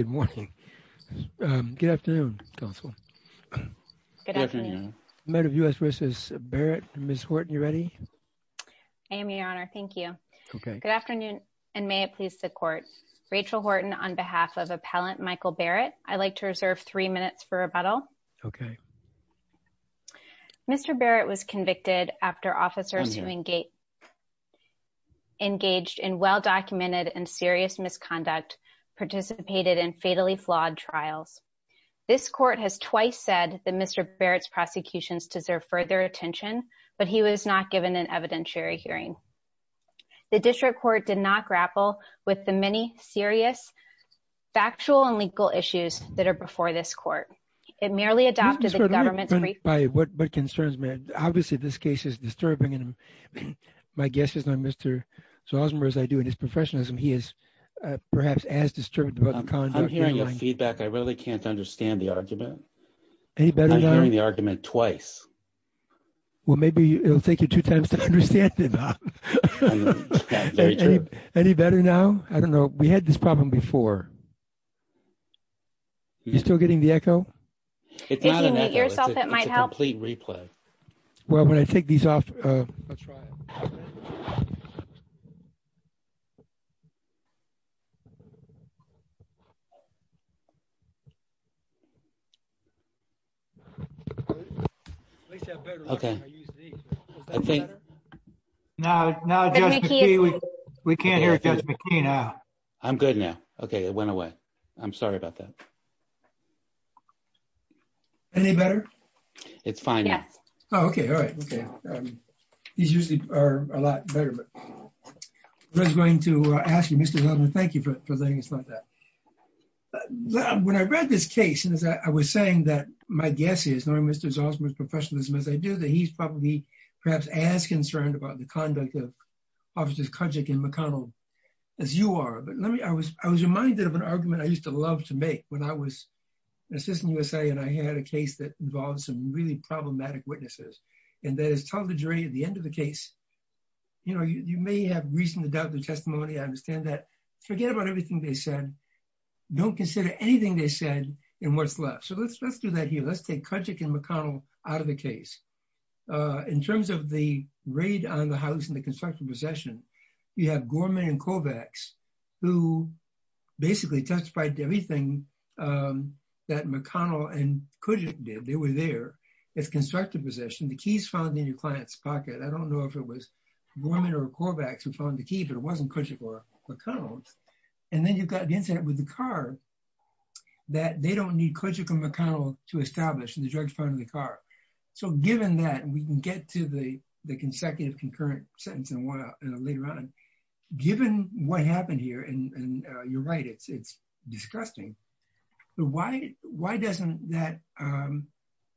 Good morning. Good afternoon, Counsel. Good afternoon. I'm out of U.S. v. Barrett. Ms. Horton, you ready? I am, Your Honor. Thank you. Okay. Good afternoon, and may it please the Court. Rachel Horton on behalf of Appellant Michael Barrett. I'd like to reserve three minutes for rebuttal. Okay. Mr. Barrett was convicted after officers who engaged in well-documented and serious misconduct participated in fatally flawed trials. This Court has twice said that Mr. Barrett's prosecutions deserve further attention, but he was not given an evidentiary hearing. The District Court did not grapple with the many serious factual and legal issues that are before this Court. It merely adopted the government's briefing. Ms. Horton, what concerns me? Obviously, this case is disturbing, and my guess is that Mr. Zosmer, as I do in his professionalism, he is perhaps as disturbed about the conduct. I'm hearing your feedback. I really can't understand the argument. Any better now? I'm hearing the argument twice. Well, maybe it'll take you two times to understand it, Bob. That's very true. Any better now? I don't know. We had this problem before. You still getting the echo? If you mute yourself, it might help. It's a complete replay. Well, when I take these off, I'll try it. Okay. Is that better? No, Judge McKee, we can't hear Judge McKee now. I'm good now. Okay, it went away. I'm sorry about that. Any better? It's fine now. Oh, okay. All right. These usually are a lot better. I was going to ask you, Mr. Zosmer, thank you for letting us know that. When I read this case, I was saying that my guess is knowing Mr. Zosmer's professionalism, as I do, that he's probably perhaps as concerned about the conduct of officers Kudzik and McConnell as you are. I was reminded of an argument I used to love to make when I was an When I was in USA and I had a case that involves some really problematic witnesses. And that is tell the jury at the end of the case. You know, you may have reason to doubt the testimony. I understand that. Forget about everything they said. Don't consider anything they said in what's left. So let's, let's do that here. Let's take Kudzik and McConnell out of the case. In terms of the raid on the house and the construction possession. You have Gorman and Kovacs. Who basically testified to everything that McConnell and Kudzik did. They were there. It's constructed possession. The keys found in your client's pocket. I don't know if it was Gorman or Kovacs who found the key, but it wasn't Kudzik or McConnell. And then you've got the incident with the car. That they don't need Kudzik and McConnell to establish in the drugs part of the car. So given that we can get to the, the consecutive concurrent sentence. And. I don't want to get into the details of this and why later on. Given what happened here. And you're right. It's, it's disgusting. Why, why doesn't that.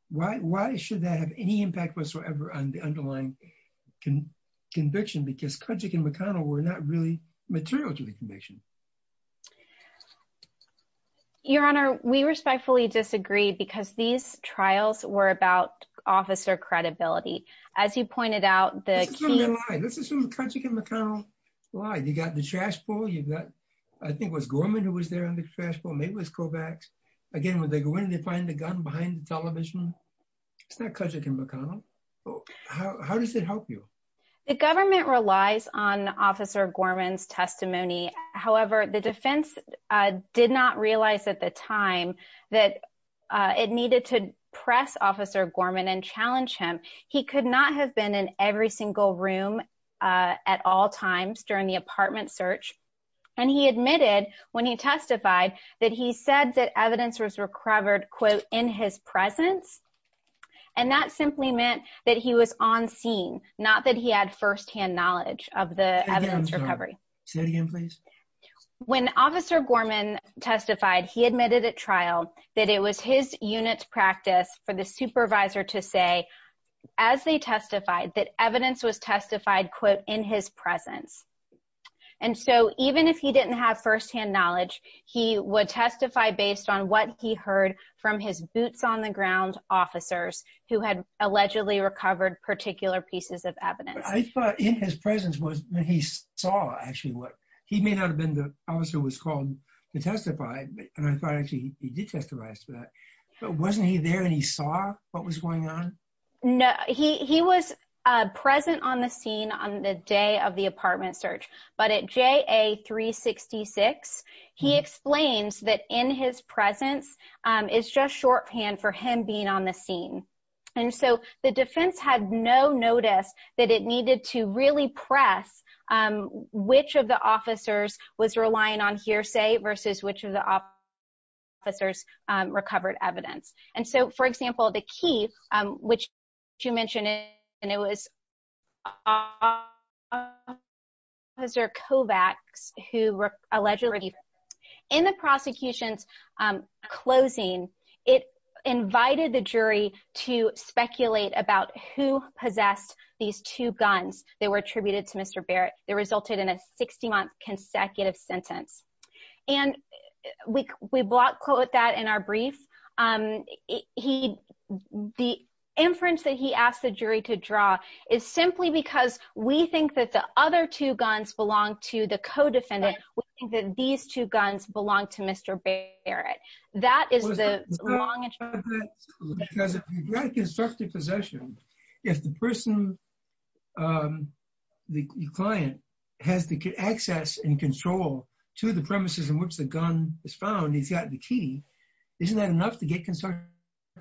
Why, why should that have any impact whatsoever on the underlying can conviction? Because Kudzik and McConnell were not really material to the conviction. Your honor, we respectfully disagree because these trials were about officer credibility. As you pointed out the. This is from the Kudzik and McConnell. Why you got the trash bowl. You've got. I think it was Gorman who was there on the trash bowl. Maybe it was Kovacs. Again, when they go in and they find the gun behind the television. It's not Kudzik and McConnell. How does it help you? The government relies on officer Gorman's testimony. The defense did not realize at the time that it needed to press officer Gorman and challenge him. He could not have been in every single room. At all times during the apartment search. And he admitted when he testified that he said that evidence was recovered quote in his presence. And that simply meant that he was on scene, Not that he had firsthand knowledge of the evidence recovery. Say it again, please. When officer Gorman testified, he admitted at trial that it was his unit's practice for the supervisor to say. As they testified that evidence was testified quit in his presence. And so even if he didn't have firsthand knowledge, he would testify based on what he heard from his boots on the ground that he had. And so he was not in the presence of his own officers who had allegedly recovered particular pieces of evidence. I thought in his presence was when he saw actually what he may not have been. Officer was called to testify. And I thought actually he did testifies to that. But wasn't he there and he saw what was going on? No, he, he was. Present on the scene on the day of the apartment search, but at J a three 66. He explains that in his presence is just shorthand for him being on the scene. And so the defense had no notice that it needed to really press. Which of the officers was relying on hearsay versus which of the. Officers recovered evidence. And so, for example, the key, which you mentioned. And it was. It was. It was. It was. Was there Kovacs who allegedly. In the prosecution's closing. It invited the jury to speculate about who possessed these two guns that were attributed to Mr. Barrett that resulted in a 60 month consecutive sentence. And we, we block quote that in our brief. He, the inference that he asked the jury to draw is simply because we think that the other two guns belong to the co-defendant. That these two guns belong to Mr. Barrett. That is the long. Constructive possession. If the person. The client has the access and control to the premises in which the gun is found, he's got the key. Isn't that enough to get concerned?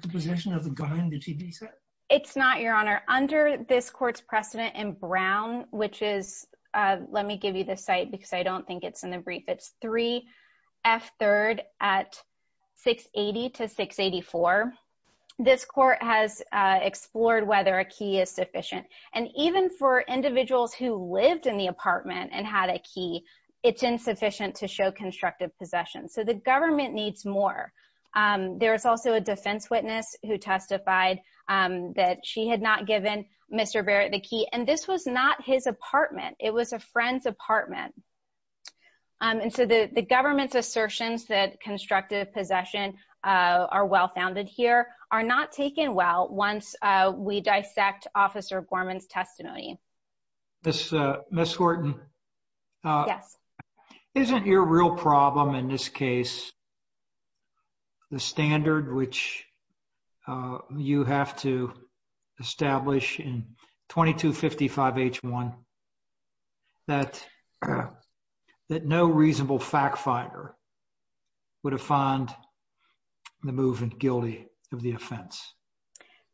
The possession of the guy in the TV set. It's not your honor under this court's precedent in Brown, which is, let me give you the site because I don't think it's in the brief. It's three F third at six 80 to six 84. This court has explored whether a key is sufficient. And even for individuals who lived in the apartment and had a key, it's insufficient to show constructive possession. So the government needs more. There is also a defense witness who testified that she had not given Mr. Barrett the key. And this was not his apartment. It was a friend's apartment. And so the, the government's assertions that constructive possession are well-founded here are not taken. Well, once we dissect officer Gorman's testimony. This Miss Horton. Yes. Isn't your real problem in this case, the standard, which, uh, you have to establish in 22 55 H one that, that no reasonable fact fighter would have found the movement guilty of the offense.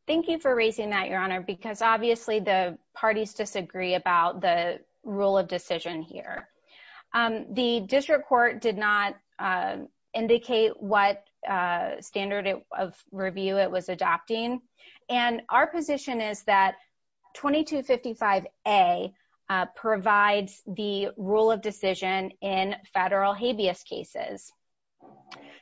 Thank you for raising that your honor, because obviously the parties disagree about the rule of decision here. Um, the district court did not, um, indicate what, uh, standard of review it was adopting. And our position is that 22 55 a, uh, provides the rule of decision in federal habeas cases.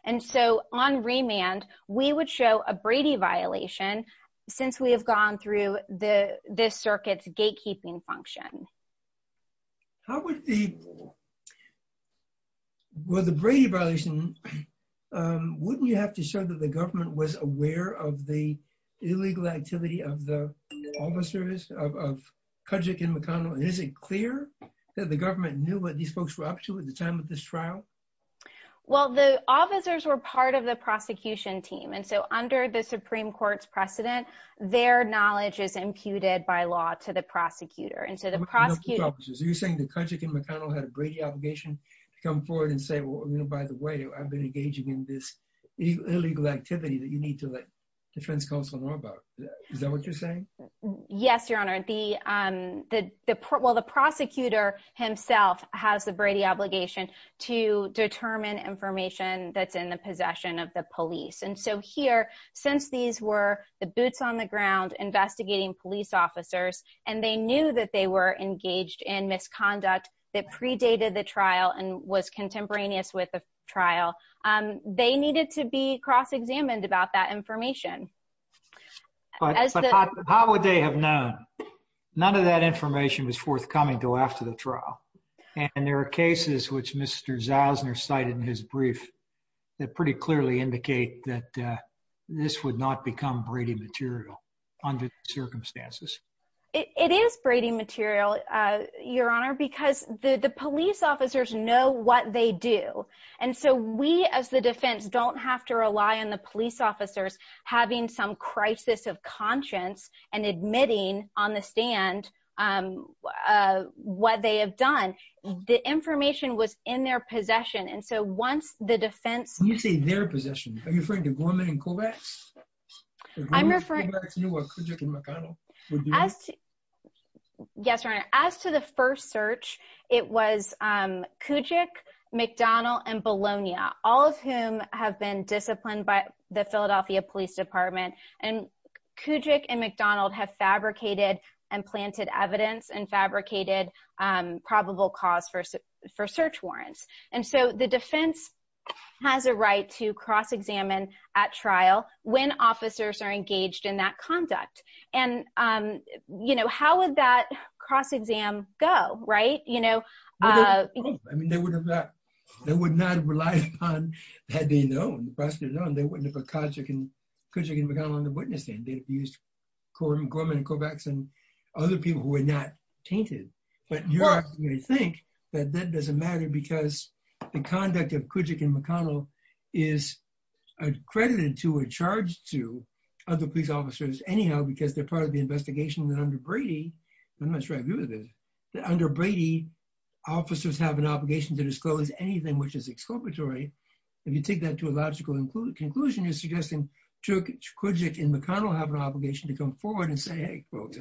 And so on remand, we would show a Brady violation since we have gone through the, this circuit's gatekeeping function. How would the, well, the Brady violation, um, wouldn't you have to show that the government was aware of the illegal activity of the officers of, of Kajik and McConnell? And is it clear that the government knew what these folks were up to at the time of this trial? Well, the officers were part of the prosecution team. And so under the Supreme court's precedent, their knowledge is imputed by law to the prosecutor. And so the prosecutor, so you're saying the Kajik and McConnell had a Brady obligation to come forward and say, well, you know, by the way, I've been engaging in this illegal activity that you need to let defense counsel know about. Is that what you're saying? Yes, your honor. The, um, the, the, well, the prosecutor himself has the Brady obligation to determine information that's in the possession of the police. And so here since these were the boots on the ground, investigating police officers, and they knew that they were engaged in misconduct that predated the trial and was contemporaneous with the trial, um, they needed to be cross-examined about that information. But how would they have known? None of that information was forthcoming until after the trial. And there are cases which Mr. Zausner cited in his brief that pretty clearly indicate that, uh, this would not become Brady material under circumstances. It is Brady material, uh, your honor, because the police officers know what they do. And so we, as the defense don't have to rely on the police officers, having some crisis of conscience and admitting on the stand, um, uh, what they have done, the information was in their possession. And so once the defense... When you say their possession, are you referring to Gorman and Kovacs? I'm referring... Kovacs knew what Kujik and McDonald were doing? Yes, your honor. As to the first search, it was, um, Kujik, McDonald and Bologna, all of whom have been disciplined by the Philadelphia police department and Kujik and McDonald have fabricated and planted evidence and fabricated, um, probable cause for, for search warrants. And so the defense has a right to cross-examine at trial when officers are engaged in that conduct. And, um, you know, how would that cross-exam go, right? You know, uh... I mean, they would have not, they would not have relied upon, had they known, had they known, they wouldn't have put Kujik and McDonald on the witness stand. They'd have used Gorman and Kovacs and other people who were not tainted. But you're asking me to think that that doesn't matter because the conduct of Kujik and McConnell is accredited to or charged to other police officers anyhow, because they're part of the investigation that under Brady, I'm not sure I agree with this, that under Brady officers have an obligation to disclose anything which is exculpatory. If you take that to a logical conclusion, you're suggesting Kujik and McConnell have an obligation to come forward and say, Hey folks,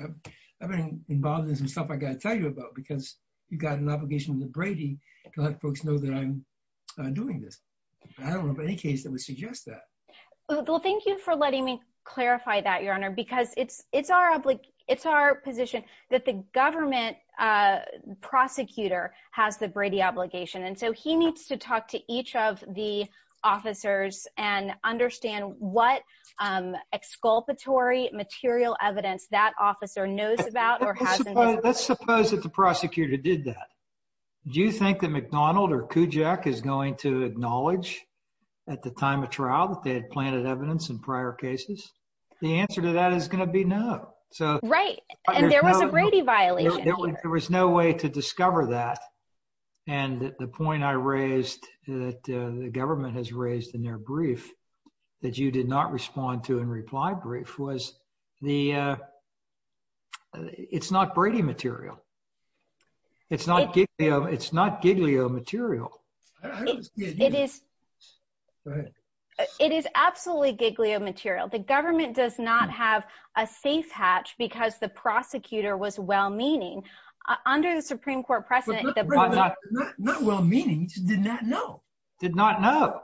I've been involved in some stuff I got to tell you about, because you've got an obligation with Brady to let folks know that I'm doing this. I don't know of any case that would suggest that. Well, thank you for letting me clarify that, Your Honor, because it's, it's our obligation, it's our position that the government prosecutor has the Brady obligation. And so he needs to talk to each of the officers and understand what, um, exculpatory material evidence that officer knows about. Let's suppose that the prosecutor did that. Do you think that McDonald or Kujik is going to acknowledge at the time of trial that they had planted evidence in prior cases? The answer to that is going to be no. Right. And there was a Brady violation. There was no way to discover that. And the point I raised that the government has raised in their brief, that you did not respond to in reply brief was the, uh, it's not Brady material. It's not, it's not Giglio material. It is, it is absolutely Giglio material. The government does not have a safe hatch because the prosecutor was well meaning under the Supreme court precedent. Not well-meaning, did not know.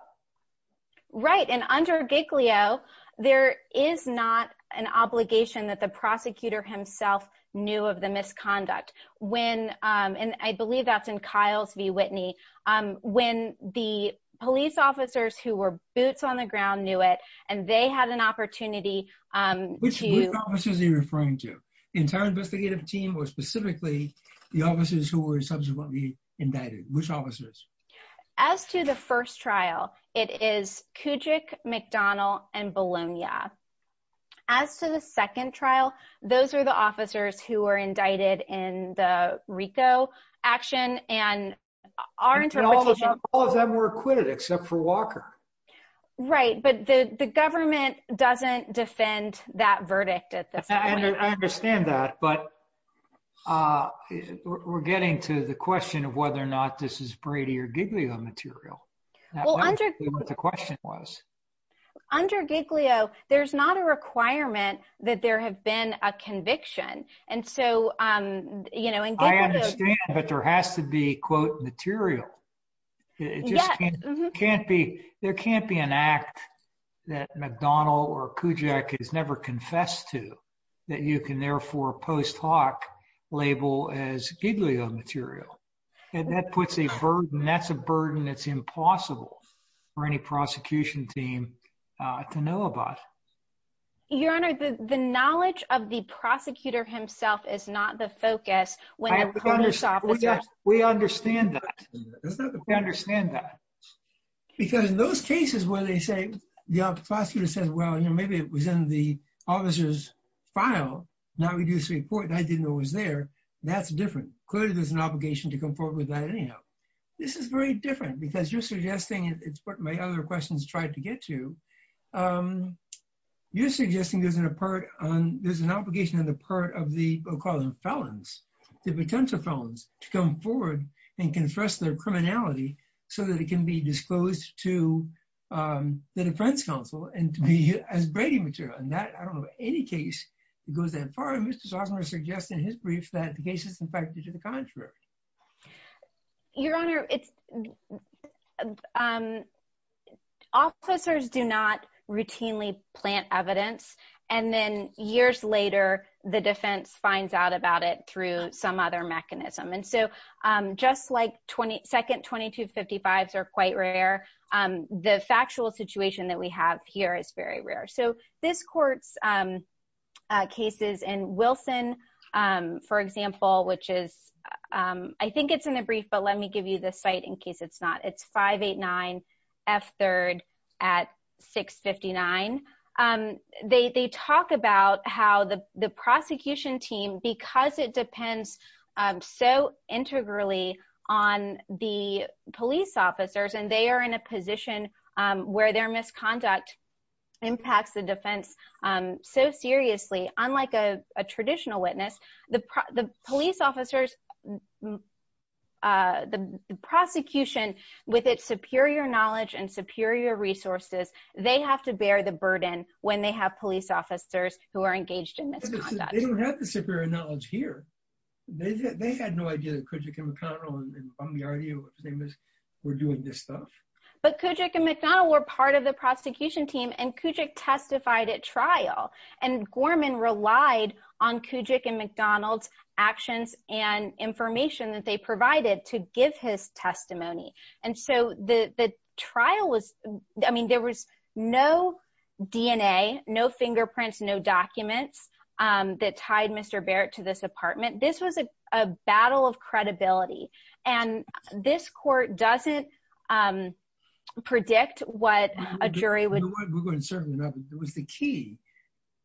Right. And under Giglio, there is not an obligation that the prosecutor himself knew of the misconduct when, um, and I believe that's in Kyle's v. Whitney, um, when the police officers who were boots on the ground knew it and they had an opportunity, um, Which officers are you referring to? Entire investigative team or specifically the officers who were subsequently indicted? Which officers? As to the first trial, it is Kujik, McDonnell and Bologna. As to the second trial, those are the officers who were indicted in the Rico action and our interpretation. All of them were acquitted except for Walker. Right. But the, the government doesn't defend that verdict at this point. I understand that, but, uh, we're getting to the question of whether or not this is Brady or Giglio material. The question was. Under Giglio, there's not a requirement that there have been a conviction. And so, um, you know, I understand, but there has to be quote material. It just can't be, there can't be an act that McDonnell or Kujik has never confessed to that you can therefore post hoc label as Giglio material. And that puts a burden. That's a burden that's impossible for any prosecution team, uh, to know about. Your Honor, the, the knowledge of the prosecutor himself is not the focus. We understand that. We understand that. Because in those cases where they say the prosecutor says, well, you know, maybe it was in the officer's file. Now we do this report. And I didn't know it was there. That's different. Clearly there's an obligation to come forward with that. Anyhow, this is very different because you're suggesting it's what my other questions tried to get to. Um, you're suggesting there's an apart on, there's an obligation on the part of the felons, the potential felons to come forward and confess their criminality so that it can be disclosed to, um, the defense counsel and to be as Brady material. And that, I don't know of any case that goes that far. And Mr. Sosner is suggesting in his brief that the case is in fact the contrary. Your Honor, it's, um, officers do not routinely plant evidence. And then years later, the defense finds out about it through some other mechanism. And so, um, just like 20 second, 22 55s are quite rare. Um, the factual situation that we have here is very rare. So this court's, um, uh, cases and Wilson, um, for example, which is, um, I think it's in a brief, but let me give you the site in case it's not, it's five, eight, nine F third at six 59. Um, they, they talk about how the, the prosecution team, because it depends so integrally on the police officers and they are in a position, um, where their misconduct impacts the defense. Um, so seriously, unlike a traditional witness, the P the police officers, uh, the prosecution with its superior knowledge and superior resources, they have to bear the burden when they have police officers who are engaged in this. They don't have the superior knowledge here. They had no idea that could you come and tell me, are you famous? We're doing this stuff. But Kujik and McDonald were part of the prosecution team and Kujik testified at trial and Gorman relied on Kujik and McDonald's actions and information that they provided to give his testimony. And so the, the trial was, I mean, there was no DNA, no fingerprints, no documents, um, that tied Mr. Barrett to this apartment. This was a battle of credibility and this court doesn't, um, predict what a jury would. It was the key.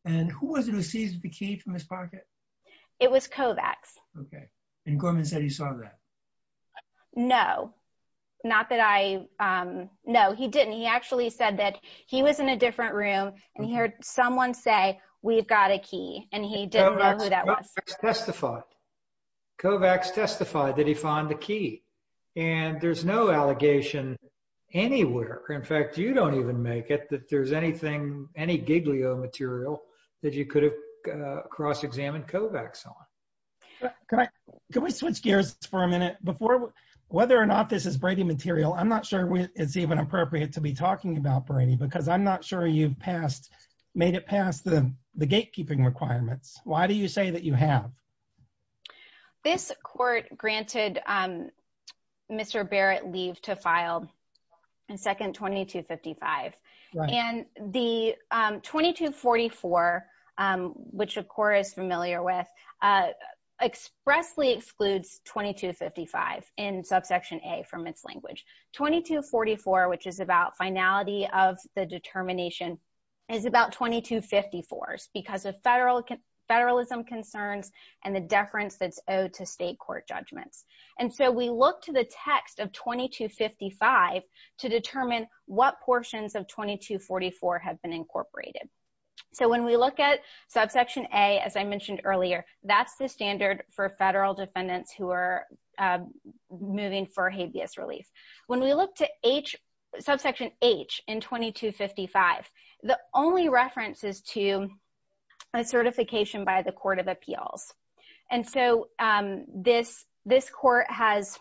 And who was it who seized the key from his pocket? It was Kovacs. Okay. And Gorman said he saw that. No, not that I, um, no, he didn't. He actually said that he was in a different room and he heard someone say, we've got a key and he didn't know who that was. Kovacs testified. Kovacs testified that he found the key. And there's no allegation anywhere. In fact, you don't even make it that there's anything, any Giglio material that you could have, uh, cross-examined Kovacs on. Can I, can we switch gears for a minute before, whether or not this is Brady material, I'm not sure it's even appropriate to be talking about Brady because I'm not sure you've passed, made it past the gatekeeping requirements. Why do you say that you have? This court granted, um, Mr. Barrett leave to file and second 2255 and the, um, 2244, um, which of course is familiar with, uh, expressly excludes 2255 in subsection a from its language 2244, which is about finality of the determination is about 2254 because of federal federalism concerns and the deference that's owed to state court judgments. And so we look to the text of 2255 to determine what portions of 2244 have been incorporated. So when we look at subsection a, as I mentioned earlier, that's the standard for federal defendants who are moving for habeas relief. When we look to H subsection H in 2255, the only reference is to a certification by the court of appeals. And so, um, this, this court has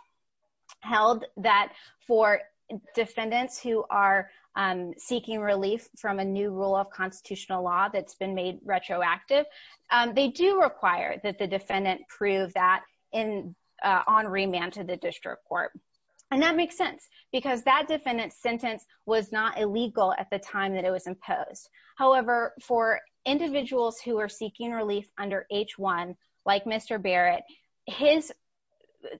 held that for defendants who are seeking relief from a new rule of constitutional law that's been made retroactive. Um, they do require that the defendant prove that in, uh, on remand to the district court. And that makes sense because that defendant sentence was not illegal at the time that it was imposed. However, for individuals who are seeking relief under H one, like Mr. Barrett, his,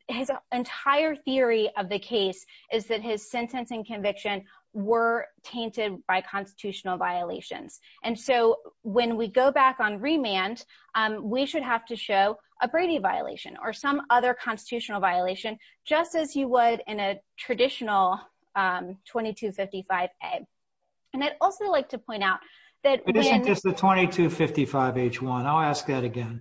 his entire theory of the case is that his sentence and conviction were tainted by constitutional violations. And so when we go back on remand, um, we should have to show a Brady violation or some other constitutional violation, just as you would in a traditional, um, 2255 a and I'd also like to point out that H one, I'll ask that again.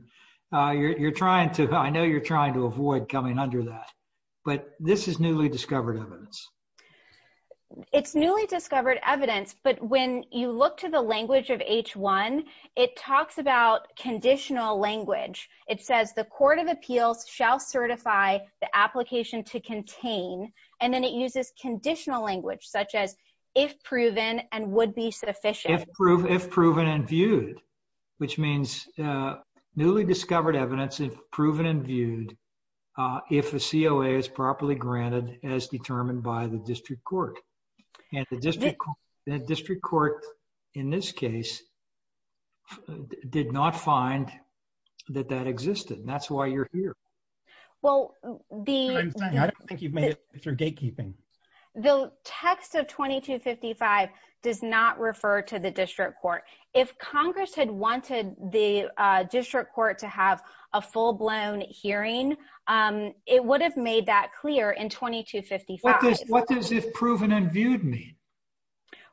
Uh, you're, you're trying to, I know you're trying to avoid coming under that, but this is newly discovered evidence. It's newly discovered evidence, but when you look to the language of H one, it talks about conditional language. It says, the court of appeals shall certify the application to contain, and then it uses conditional language such as if proven and would be sufficient. If proven and viewed, which means, uh, newly discovered evidence if proven and viewed, uh, if a COA is properly granted as determined by the district court and the district court in this case did not find that that existed. And that's why you're here. Well, the, I don't think you've made it through gatekeeping. The text of 2255 does not refer to the district court. If Congress had wanted the, uh, district court to have a full blown hearing, um, it would have made that clear in 2255. What does if proven and viewed me?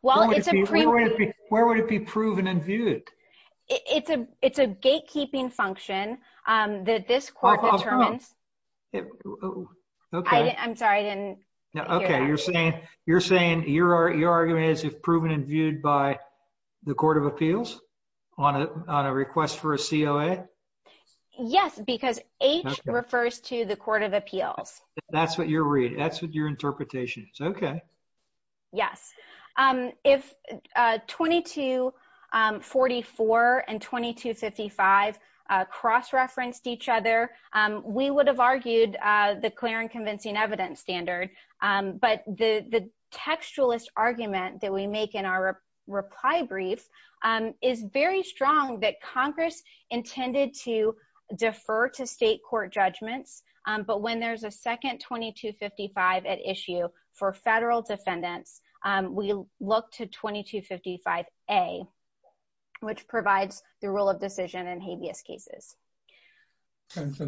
Well, where would it be proven and viewed? It's a, it's a gatekeeping function. Um, that this court determines. Okay. I'm sorry. I didn't hear that. Okay. You're saying, you're saying your, your argument is if proven and viewed by the court of appeals on a, on a request for a COA. Yes, because H refers to the court of appeals. That's what you're reading. That's what your interpretation is. Okay. Yes. Um, if, uh, 22, um, 44 and 2255, uh, cross-referenced each other, um, we would have argued, uh, the clear and convincing evidence standard. Um, but the textualist argument that we make in our reply brief, um, is very strong that Congress intended to defer to state court judgments. Um, but when there's a second 2255 at issue for federal defendants, um, we look to 2255 a, which provides the role of decision and habeas cases. Okay. So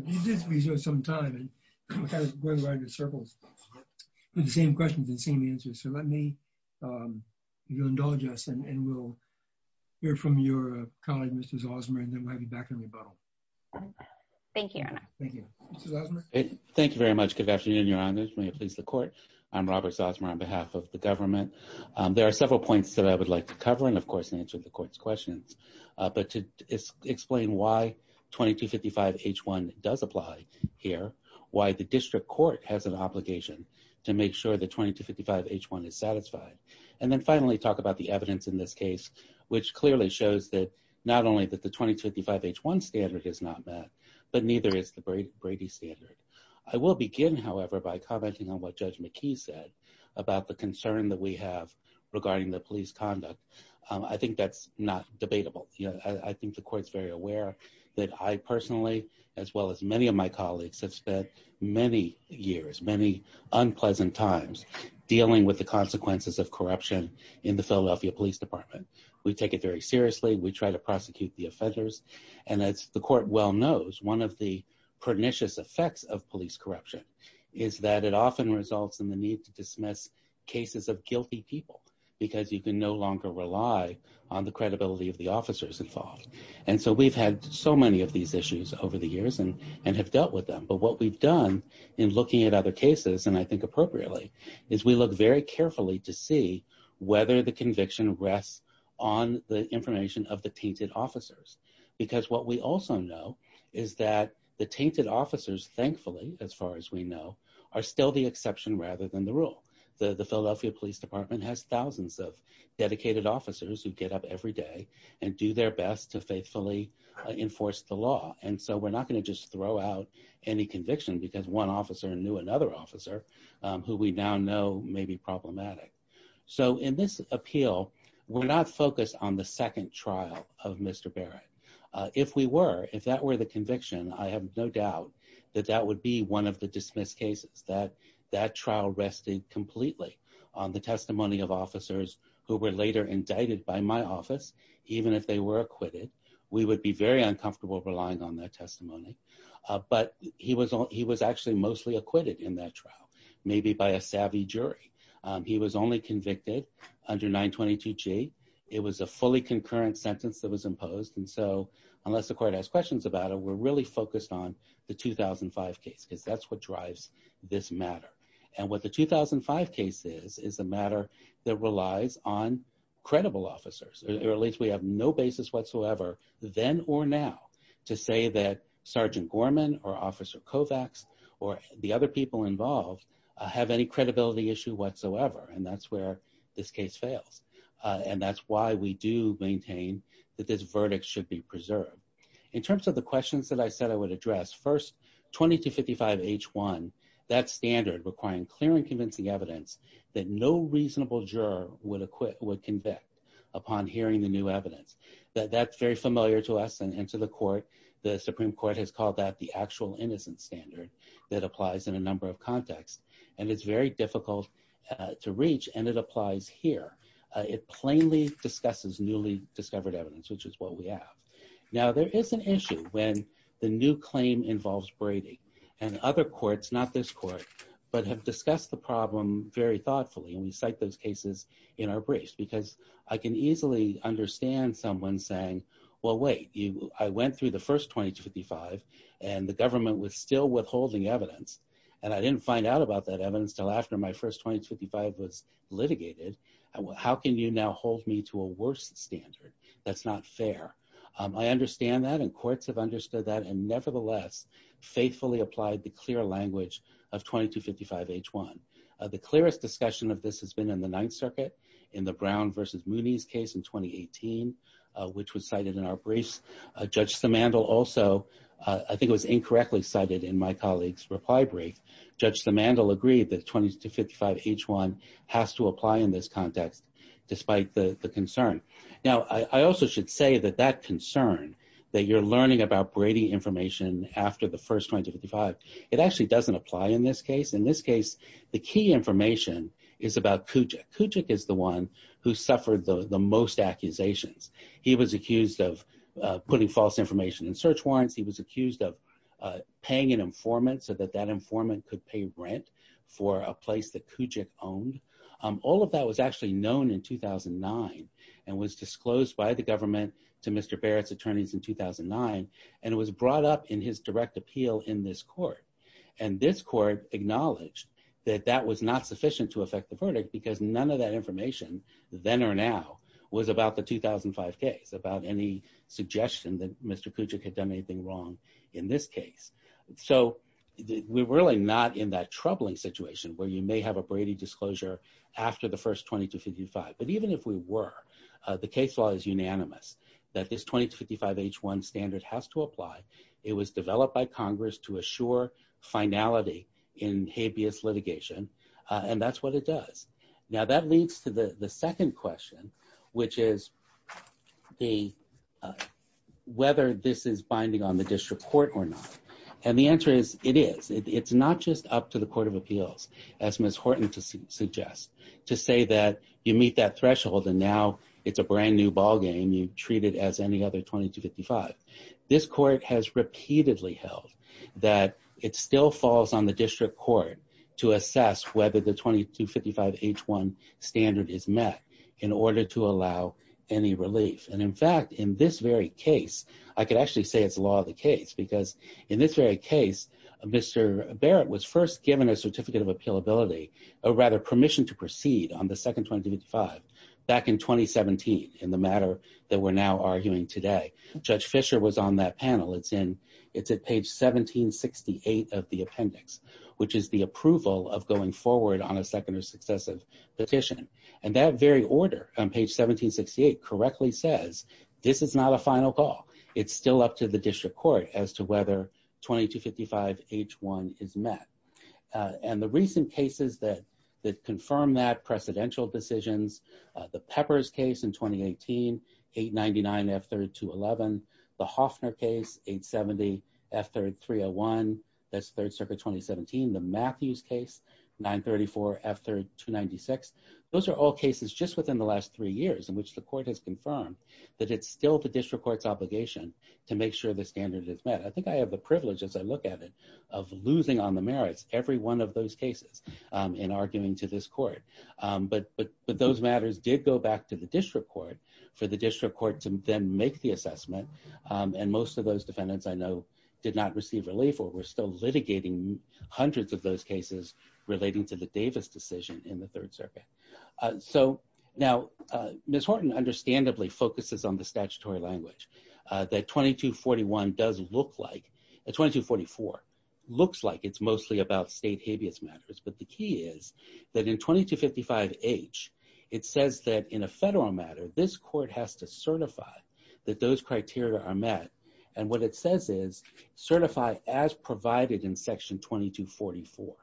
we do have some time and I'm kind of going around in circles with the same questions and same answers. So let me, um, you indulge us and, and we'll hear from your colleague, Mrs. Osmer, and then we'll be back in rebuttal. Thank you. Thank you. Thank you very much. Good afternoon. Your honors. May it please the court. I'm Robert Osmer on behalf of the government. Um, there are several points that I would like to cover. And of course, in answering the court's questions, uh, but to explain why 2255 H1 does apply here, why the district court has an obligation to make sure that 2255 H1 is satisfied. And then finally talk about the evidence in this case, which clearly shows that not only that the 2255 H1 standard is not met, but neither is the Brady standard. I will begin, however, by commenting on what judge McKee said about the concern that we have regarding the police conduct. Um, I think that's not debatable. I think the court's very aware that I personally, as well as many of my colleagues have spent many years, many unpleasant times dealing with the consequences of corruption in the Philadelphia police department. We take it very seriously. We try to prosecute the offenders and that's the court. Well knows one of the pernicious effects of police corruption is that it often results in the need to dismiss cases of guilty people because you can no longer rely on the credibility of the officers involved. And so we've had so many of these issues over the years and, and have dealt with them. But what we've done in looking at other cases, and I think appropriately is we look very carefully to see whether the conviction rests on the information of the tainted officers, because what we also know is that the tainted officers, thankfully, as far as we know, are still the exception rather than the rule. The Philadelphia police department has thousands of dedicated officers who get up every day and do their best to faithfully enforce the law. And so we're not going to just throw out any conviction because one officer knew another officer who we now know may be problematic. So in this appeal, we're not focused on the second trial of Mr. Barrett. If we were, if that were the conviction, I have no doubt that that would be one of the dismissed cases that that trial rested completely on the testimony of officers who were later indicted by my office. Even if they were acquitted, we would be very uncomfortable relying on that testimony. But he was all, he was actually mostly acquitted in that trial, maybe by a savvy jury. He was only convicted under 922 G. It was a fully concurrent sentence that was imposed. And so unless the court has questions about it, we're really focused on the 2005 case because that's what drives this matter. And what the 2005 case is, is a matter that relies on credible officers or at least we have no basis whatsoever then or now to say that Sergeant Gorman or officer Kovacs or the other people involved have any credibility issue whatsoever. And that's where this case fails. And that's why we do maintain that this verdict should be preserved in terms of the questions that I said, I would address first 2255 H one, that standard requiring clear and convincing evidence that no reasonable juror would acquit would convict upon hearing the new evidence that that's very familiar to us and to the court. The Supreme court has called that the actual innocent standard that applies in a number of contexts. And it's very difficult to reach and it applies here. It plainly discusses newly discovered evidence, which is what we have. Now there is an issue when the new claim involves Brady and other courts, not this court, but have discussed the problem very thoughtfully. And we cite those cases in our briefs because I can easily understand someone saying, well, wait, you, I went through the first 2255 and the government was still withholding evidence. And I didn't find out about that evidence till after my first 2255 was litigated. How can you now hold me to a worst standard? That's not fair. I understand that. And courts have understood that. And nevertheless faithfully applied the clear language of 2255 H one. The clearest discussion of this has been in the ninth circuit in the Brown versus Mooney's case in 2018, which was cited in our briefs. Judge Samandel also, I think it was incorrectly cited in my colleague's reply brief. Judge Samandel agreed that 2255 H one has to apply in this context, despite the concern. Now I also should say that that concern that you're learning about Brady information after the first 2255, it actually doesn't apply in this case. In this case, the key information is about Kujic. Kujic is the one who suffered the most accusations. He was accused of putting false information in search warrants. He was accused of paying an informant so that that informant could pay rent for a place that Kujic owned. All of that was actually known in 2009 and was disclosed by the government to Mr. Barrett's attorneys in 2009. And it was brought up in his direct appeal in this court. And this court acknowledged that that was not sufficient to affect the verdict because none of that information. Then or now was about the 2005 case, about any suggestion that Mr. Kujic had done anything wrong in this case. So we were really not in that troubling situation where you may have a Brady disclosure after the first 2255. But even if we were, the case law is unanimous that this 2255 H one standard has to apply. It was developed by Congress to assure finality in habeas litigation. And that's what it does. Now that leads to the second question, which is the whether this is binding on the district court or not. And the answer is it is it's not just up to the court of appeals as Ms. Horton to suggest to say that you meet that threshold. And now it's a brand new ball game. You treat it as any other 2255. This court has repeatedly held that it still falls on the district court to assess whether the 2255 H one standard is met in order to allow any relief. And in fact, in this very case, I could actually say it's a law of the case because in this very case, Mr. Barrett was first given a certificate of appeal ability or rather permission to proceed on the second 25. Back in 2017 in the matter that we're now arguing today, judge Fisher was on that panel. It's in. It's at page 1768 of the appendix, which is the approval of going forward on a second or successive petition. And that very order on page 1768 correctly says this is not a final call. It's still up to the district court as to whether 2255 H one is met. And the recent cases that, that confirm that precedential decisions, the peppers case in 2018, eight 99 F 32, 11, the Hoffner case, eight 70 F third 301. That's third circuit, 2017, the Matthews case. Nine 34 after two 96. Those are all cases just within the last three years in which the court has confirmed that it's still the district court's obligation to make sure the standard is met. I think I have the privilege as I look at it. Of losing on the merits, every one of those cases. And arguing to this court. But, but, but those matters did go back to the district court for the district court to then make the assessment. And most of those defendants I know. Did not receive relief or we're still litigating hundreds of those cases relating to the Davis decision in the third circuit. So now Ms. Horton understandably focuses on the statutory language that 2241 does look like. It's 2244 looks like it's mostly about state habeas matters, but the key is that in 2255 H it says that in a federal matter, this court has to certify that those criteria are met. And what it says is certify as provided in section 2244.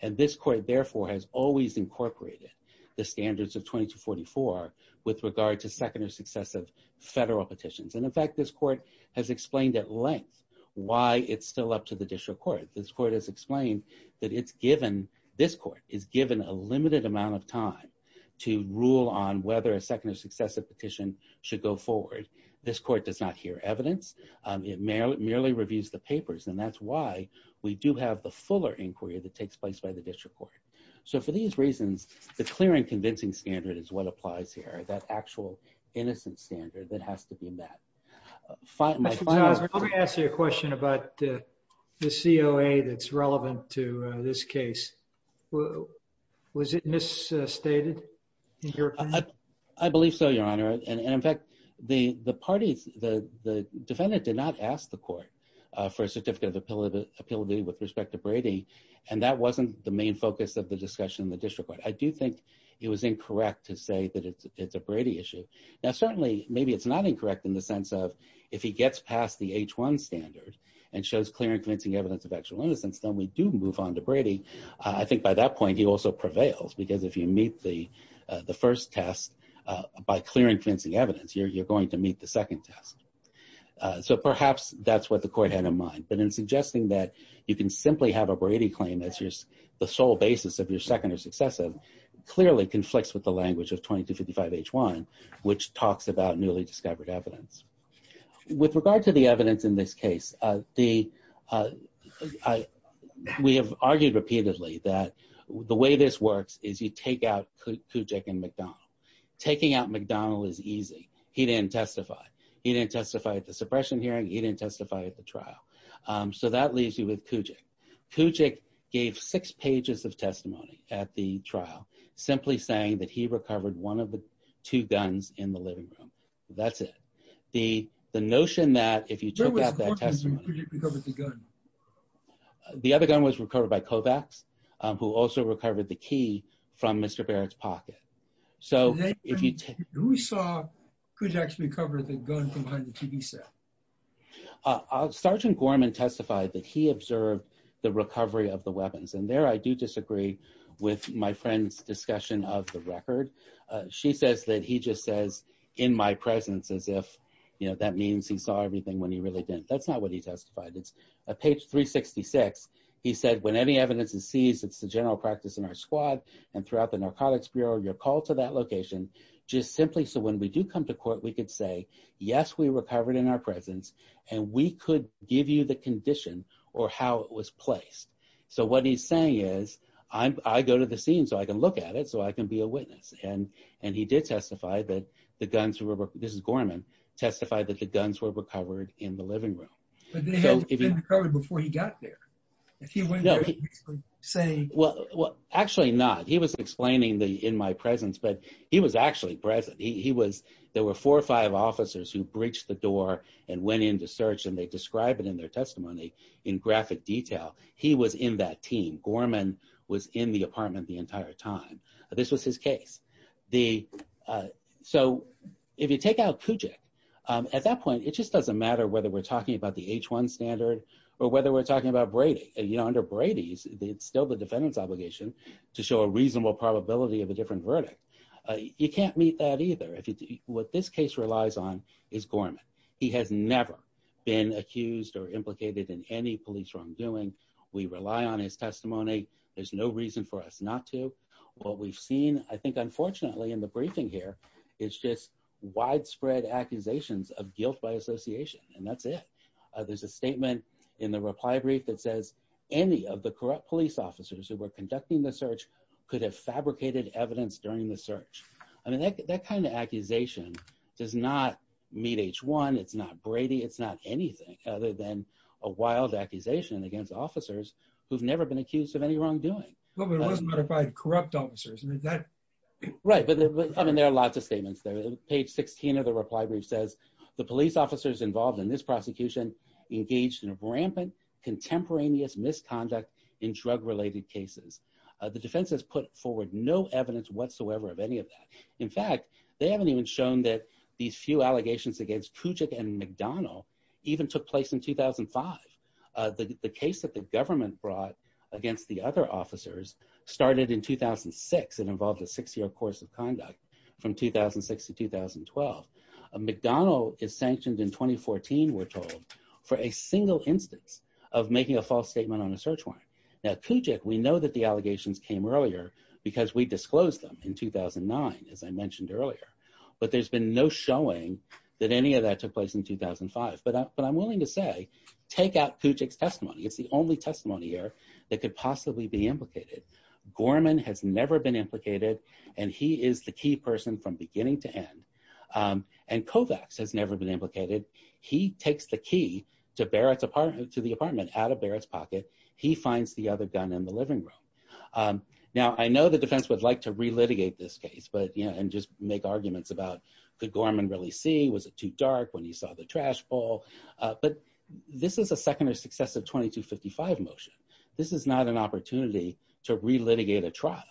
And this court therefore has always incorporated the standards of 2244 with regard to second or successive federal petitions. And in fact, this court has explained at length why it's still up to the district court. This court has explained that it's given this court is given a limited amount of time to rule on whether a second or successive petition should go forward. This court does not hear evidence. It merely reviews the papers. And that's why we do have the fuller inquiry that takes place by the district court. So for these reasons, the clear and convincing standard is what applies here. That actual innocent standard that has to be met. Let me ask you a question about the COA that's relevant to this case. Was it misstated? I believe so, your honor. And in fact, the, the parties, the, the defendant did not ask the court for a certificate of the pillar, the ability with respect to Brady. And that wasn't the main focus of the discussion in the district court. I do think it was incorrect to say that it's, it's a Brady issue. Now certainly maybe it's not incorrect in the sense of if he gets past the H one standard and shows clear and convincing evidence of actual innocence, then we do move on to Brady. I think by that point he also prevails because if you meet the, the first test by clear and convincing evidence here, you're going to meet the second test. So perhaps that's what the court had in mind, but in suggesting that you can simply have a Brady claim, that's just the sole basis of your second or successive clearly conflicts with the language of 2255 H one, which talks about newly discovered evidence. With regard to the evidence in this case, the, we have argued repeatedly that the way this works is you take out Kujik and McDonald. Taking out McDonald is easy. He didn't testify. He didn't testify at the suppression hearing. He didn't testify at the trial. So that leaves you with Kujik. Kujik gave six pages of testimony at the trial, simply saying that he recovered one of the two guns in the living room. That's it. The, the notion that if you took out that testimony, the other gun was recovered by Kovacs who also recovered the key from Mr. Barrett's pocket. So if you take, we saw could actually cover the gun from behind the TV set. Sergeant Gorman testified that he observed the recovery of the weapons. And there, I do disagree with my friend's discussion of the record. She says that he just says in my presence as if, you know, that means he saw everything when he really didn't. That's not what he testified. It's a page 366. He said, when any evidence is seized, it's the general practice in our squad. And throughout the narcotics Bureau, your call to that location, just simply. So when we do come to court, we could say, yes, we recovered in our presence and we could give you the condition or how it was placed. So what he's saying is I'm, I go to the scene so I can look at it so I can be a witness. And, and he did testify that the guns were, this is Gorman, testified that the guns were recovered in the living room. But they had been recovered before he got there. If he went there, he could say. Well, actually not, he was explaining the, in my presence, but he was actually present. He was, there were four or five officers who breached the door and went into search and they described it in their testimony in graphic detail. He was in that team. Gorman was in the apartment the entire time. This was his case. The, so if you take out Kujik at that point, it just doesn't matter whether we're talking about the H one standard or whether we're talking about Brady, you know, under Brady's, it's still the defendant's obligation to show a reasonable probability of a different verdict. You can't meet that either. If you do what this case relies on is Gorman. He has never been accused or implicated in any police wrongdoing. We rely on his testimony. There's no reason for us not to, to look at the evidence that we have. And we have to look at the evidence that we have. What we've seen, I think, unfortunately in the briefing here, it's just widespread accusations of guilt by association. And that's it. There's a statement in the reply brief that says any of the corrupt police officers who were conducting the search. Could have fabricated evidence during the search. I mean, that, that kind of accusation does not meet H one. It's not Brady. It's not anything other than. A wild accusation against officers. Who've never been accused of any wrongdoing. Corrupt officers. Right. But I mean, there are lots of statements there. Page 16 of the reply brief says the police officers involved in this prosecution engaged in a rampant contemporaneous misconduct in drug related cases. The defense has put forward no evidence whatsoever of any of that. In fact, they haven't even shown that these few allegations against Puget and McDonald. Even took place in 2005. The case that the government brought against the other officers. Started in 2006. It involved a six year course of conduct. From 2006 to 2012. McDonald is sanctioned in 2014. We're told. For a single instance of making a false statement on a search warrant. Now Kujic. We know that the allegations came earlier because we disclosed them in 2009, as I mentioned earlier. 2009, as I mentioned earlier. But there's been no showing that any of that took place in 2005, but I'm willing to say. Take out Kujic testimony. It's the only testimony here. That could possibly be implicated. Gorman has never been implicated and he is the key person from beginning to end. And Kovacs has never been implicated. He takes the key to Barrett's apartment to the apartment out of Barrett's pocket. He finds the other gun in the living room. Now I know the defense would like to relitigate this case, but yeah. And just make arguments about the Gorman really see, was it too dark when he saw the trash ball? But this is a secondary success of 2255 motion. This is not an opportunity to relitigate a trial.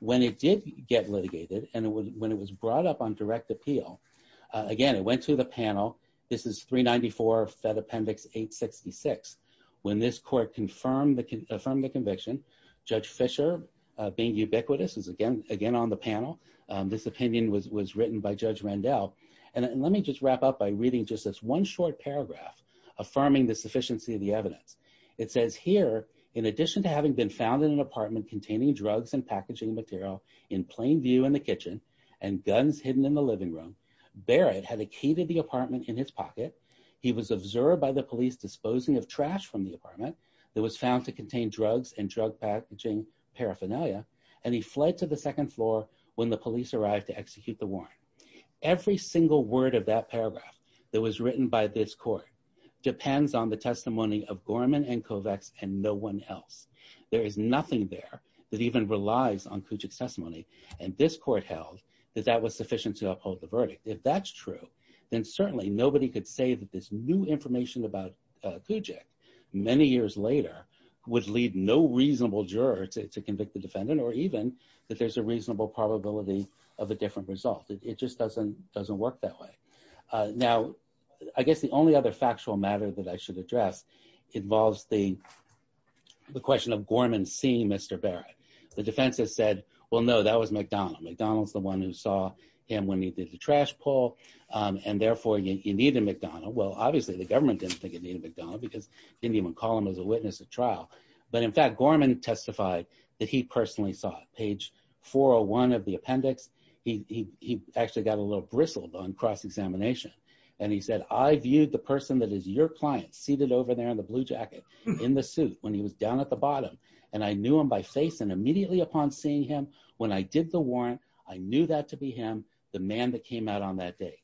When it did get litigated. And when it was brought up on direct appeal. Again, it went to the panel. This is three 94 Fed appendix eight 66. When this court confirmed that can affirm the conviction. Judge Fisher being ubiquitous is again, again on the panel. This opinion was, was written by judge Randall. And let me just wrap up by reading just this one short paragraph. Affirming the sufficiency of the evidence. It says here, in addition to having been found in an apartment containing drugs and packaging material in plain view in the kitchen and guns hidden in the living room. Barrett had a key to the apartment in his pocket. He was observed by the police disposing of trash from the apartment that was found to contain drugs and drug packaging paraphernalia. And he fled to the second floor when the police arrived to execute the warrant. Every single word of that paragraph that was written by this court. Depends on the testimony of Gorman and Kovacs and no one else. There is nothing there that even relies on Cooch's testimony. And this court held that that was sufficient to uphold the verdict. If that's true. Then certainly nobody could say that this new information about Kujik many years later would lead no reasonable juror to, to convict the defendant, or even that there's a reasonable probability of a different result. It just doesn't, doesn't work that way. Now, I guess the only other factual matter that I should address. It involves the. The question of Gorman seeing Mr. Barrett, the defense has said, well, no, that was McDonald. McDonald's the one who saw him when he did the trash pull. And therefore you need a McDonald. Well, obviously the government didn't think it needed McDonald because. Didn't even call him as a witness at trial, but in fact, Gorman testified that he personally saw page. 401 of the appendix. He, he, he actually got a little bristled on cross-examination and he said, I viewed the person that is your client seated over there in the blue jacket in the suit when he was down at the bottom. And I knew him by face and immediately upon seeing him when I did the warrant, I knew that to be him, the man that came out on that day.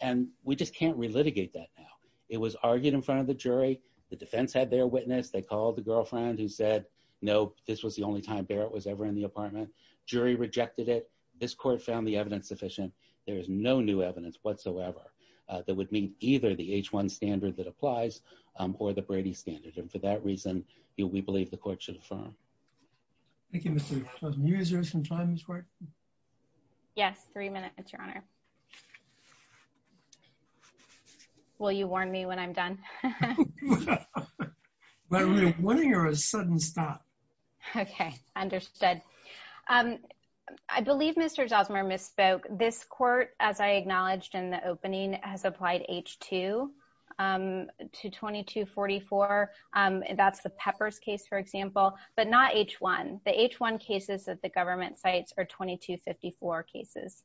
And we just can't relitigate that now. It was argued in front of the jury. The defense had their witness. They called the girlfriend who said, no, this was the only time Barrett was ever in the apartment. Jury rejected it. This court found the evidence sufficient. There is no new evidence whatsoever. That would mean either the H one standard that applies or the Brady standard. And for that reason, you know, we believe the court should have found. Thank you, Mr. Three minutes, your honor. Well, you warned me when I'm done. When are you a sudden stop? Okay. Understood. I believe Mr. Zellsmer misspoke this court, as I acknowledged in the opening, has applied H two to 2244. That's the peppers case for example, but not H one, the H one cases that the government sites are 2254 cases.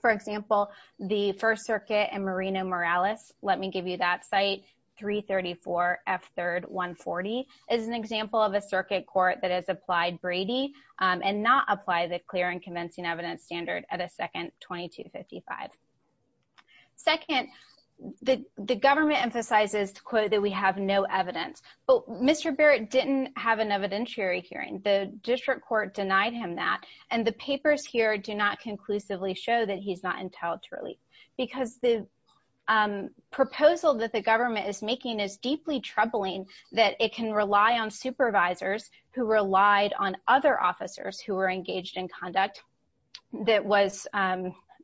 For example, the first circuit and Marina Morales. Let me give you that site. Three 34 F third one 40 is an example of a circuit court that has applied Brady and not apply the clear and convincing evidence standard at a second 2255. Second. The third circuit court is a circuit court that has applied the And the, the government emphasizes to quote that we have no evidence, but Mr. Barrett didn't have an evidentiary hearing. The district court denied him that, and the papers here do not conclusively show that he's not in town truly. Because the. Proposal that the government is making is deeply troubling. That it can rely on supervisors who relied on other officers who were engaged in conduct. That was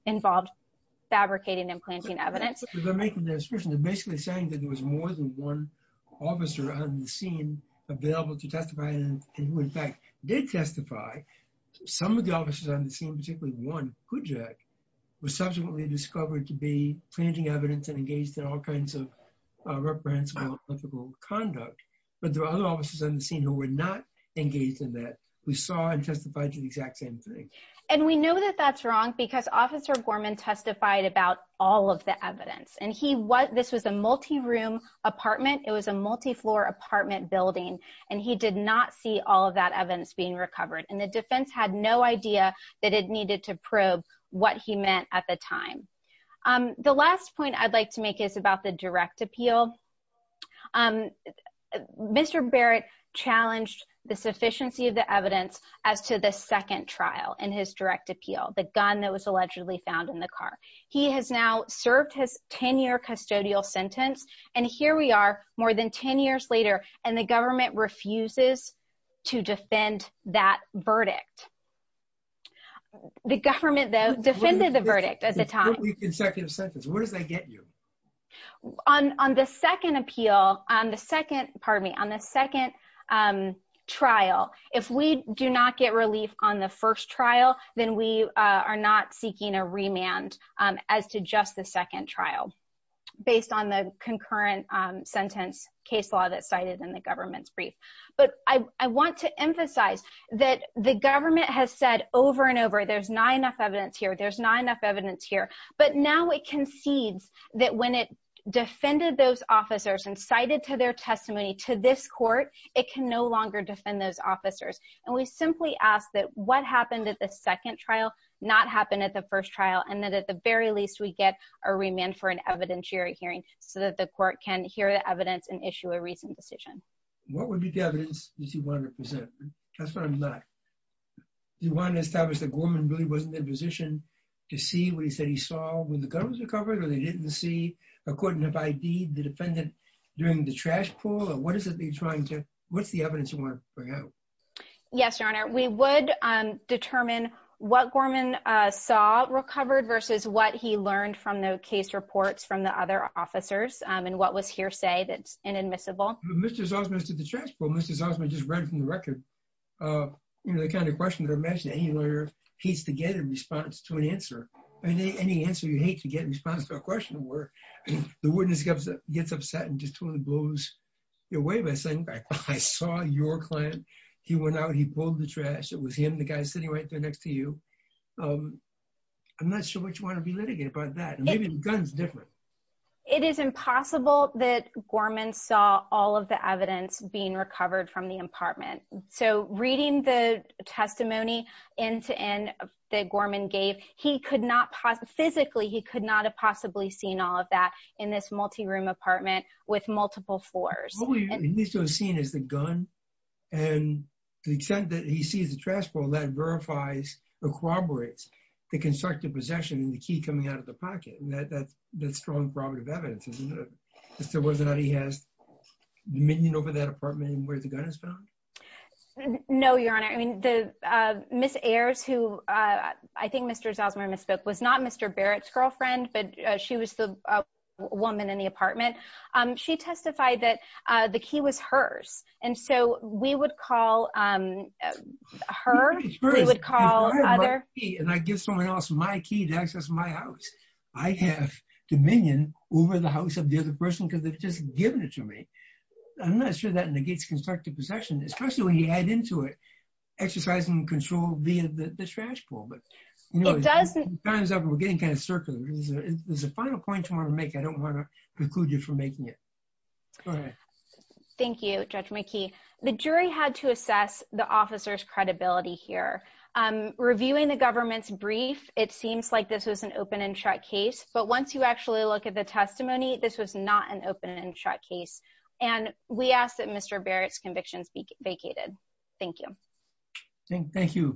involved. Fabricating and planting evidence. Basically saying that there was more than one. Officer on the scene. Available to testify. Did testify. Some of the officers on the scene, particularly one who Jack. Was subsequently discovered to be changing evidence and engaged in all kinds of. Reprehensible ethical conduct. But there are other officers on the scene who were not engaged in that. And so, you know, that the district court denied him that evidence. We saw and testified to the exact same thing. And we know that that's wrong because officer Gorman testified about all of the evidence and he was, this was a multi room apartment. It was a multi floor apartment building. And he did not see all of that evidence being recovered. And the defense had no idea that it needed to probe what he meant at the time. The last point I'd like to make is about the direct appeal. Mr. Barrett challenged the sufficiency of the evidence as to the second trial and his direct appeal. The gun that was allegedly found in the car. He has now served his 10 year custodial sentence. And here we are more than 10 years later and the government refuses. To defend that verdict. The government though defended the verdict at the time. On, on the second appeal on the second, pardon me on the second trial. If we do not get relief on the first trial, then we are not seeking a remand as to just the second trial. Based on the concurrent sentence case law that cited in the government's brief. But I, I want to emphasize that the government has said over and over, there's not enough evidence here. There's not enough evidence here, but now it concedes that when it defended those officers and cited to their testimony to this court, it can no longer defend those officers. And we simply ask that what happened at the second trial, not happen at the first trial. And then at the very least we get a remand for an evidentiary hearing so that the court can hear the evidence and issue a reason decision. What would be the evidence that you want to represent? That's what I'm not. Do you want to establish that Gorman really wasn't in position to see what he said he saw when the gun was recovered or they didn't see according to by deed, the defendant during the trash pool, or what is it that you're trying to what's the evidence you want to bring out? Yes, Your Honor. We would determine what Gorman saw recovered versus what he learned from the case reports from the other officers. And what was hearsay that's inadmissible. Mr. Zausman said the trash bowl, Mr. Zausman just read from the record. You know, the kind of question that I imagine any lawyer hates to get in response to an answer. I mean, any answer you hate to get in response to a question where the witness gets upset and just totally blows your way by saying, I saw your client. He went out, he pulled the trash. It was him, the guy sitting right there next to you. I'm not sure what you want to be litigated by that. And maybe the gun's different. It is impossible that Gorman saw all of the evidence being recovered from the apartment. So reading the testimony end to end that Gorman gave, he could not physically, he could not have possibly seen all of that in this multi-room apartment with multiple floors. At least it was seen as the gun. And the extent that he sees the trash bowl that verifies or corroborates the evidence. I don't know that he has any constructive possession in the key coming out of the pocket. That's the strong problem of evidence. Mr. Wasn't that he has. Dominion over that apartment and where the gun is. No, your honor. I mean, the, uh, Miss Ayers who, uh, I think Mr. Zosima misspoke was not Mr. Barrett's girlfriend, but she was the. Woman in the apartment. Um, she testified that, uh, the key was hers. And so we would call, um, Her. I don't know. I don't know. I don't know. I have dominion over the house of the other person. Cause they've just given it to me. I'm not sure that negates constructive possession, especially when you add into it. Exercising control via the trash pool, but. It doesn't. Time's up. We're getting kind of circular. There's a final point to want to make. I don't want to. Include you for making it. Thank you. Judge Mickey. The jury had to assess the officer's credibility here. Um, reviewing the government's brief. It seems like this was an open and shut case, but once you actually look at the testimony, this was not an open and shut case. And we asked that Mr. Thank you. Thank you. Thank you very much.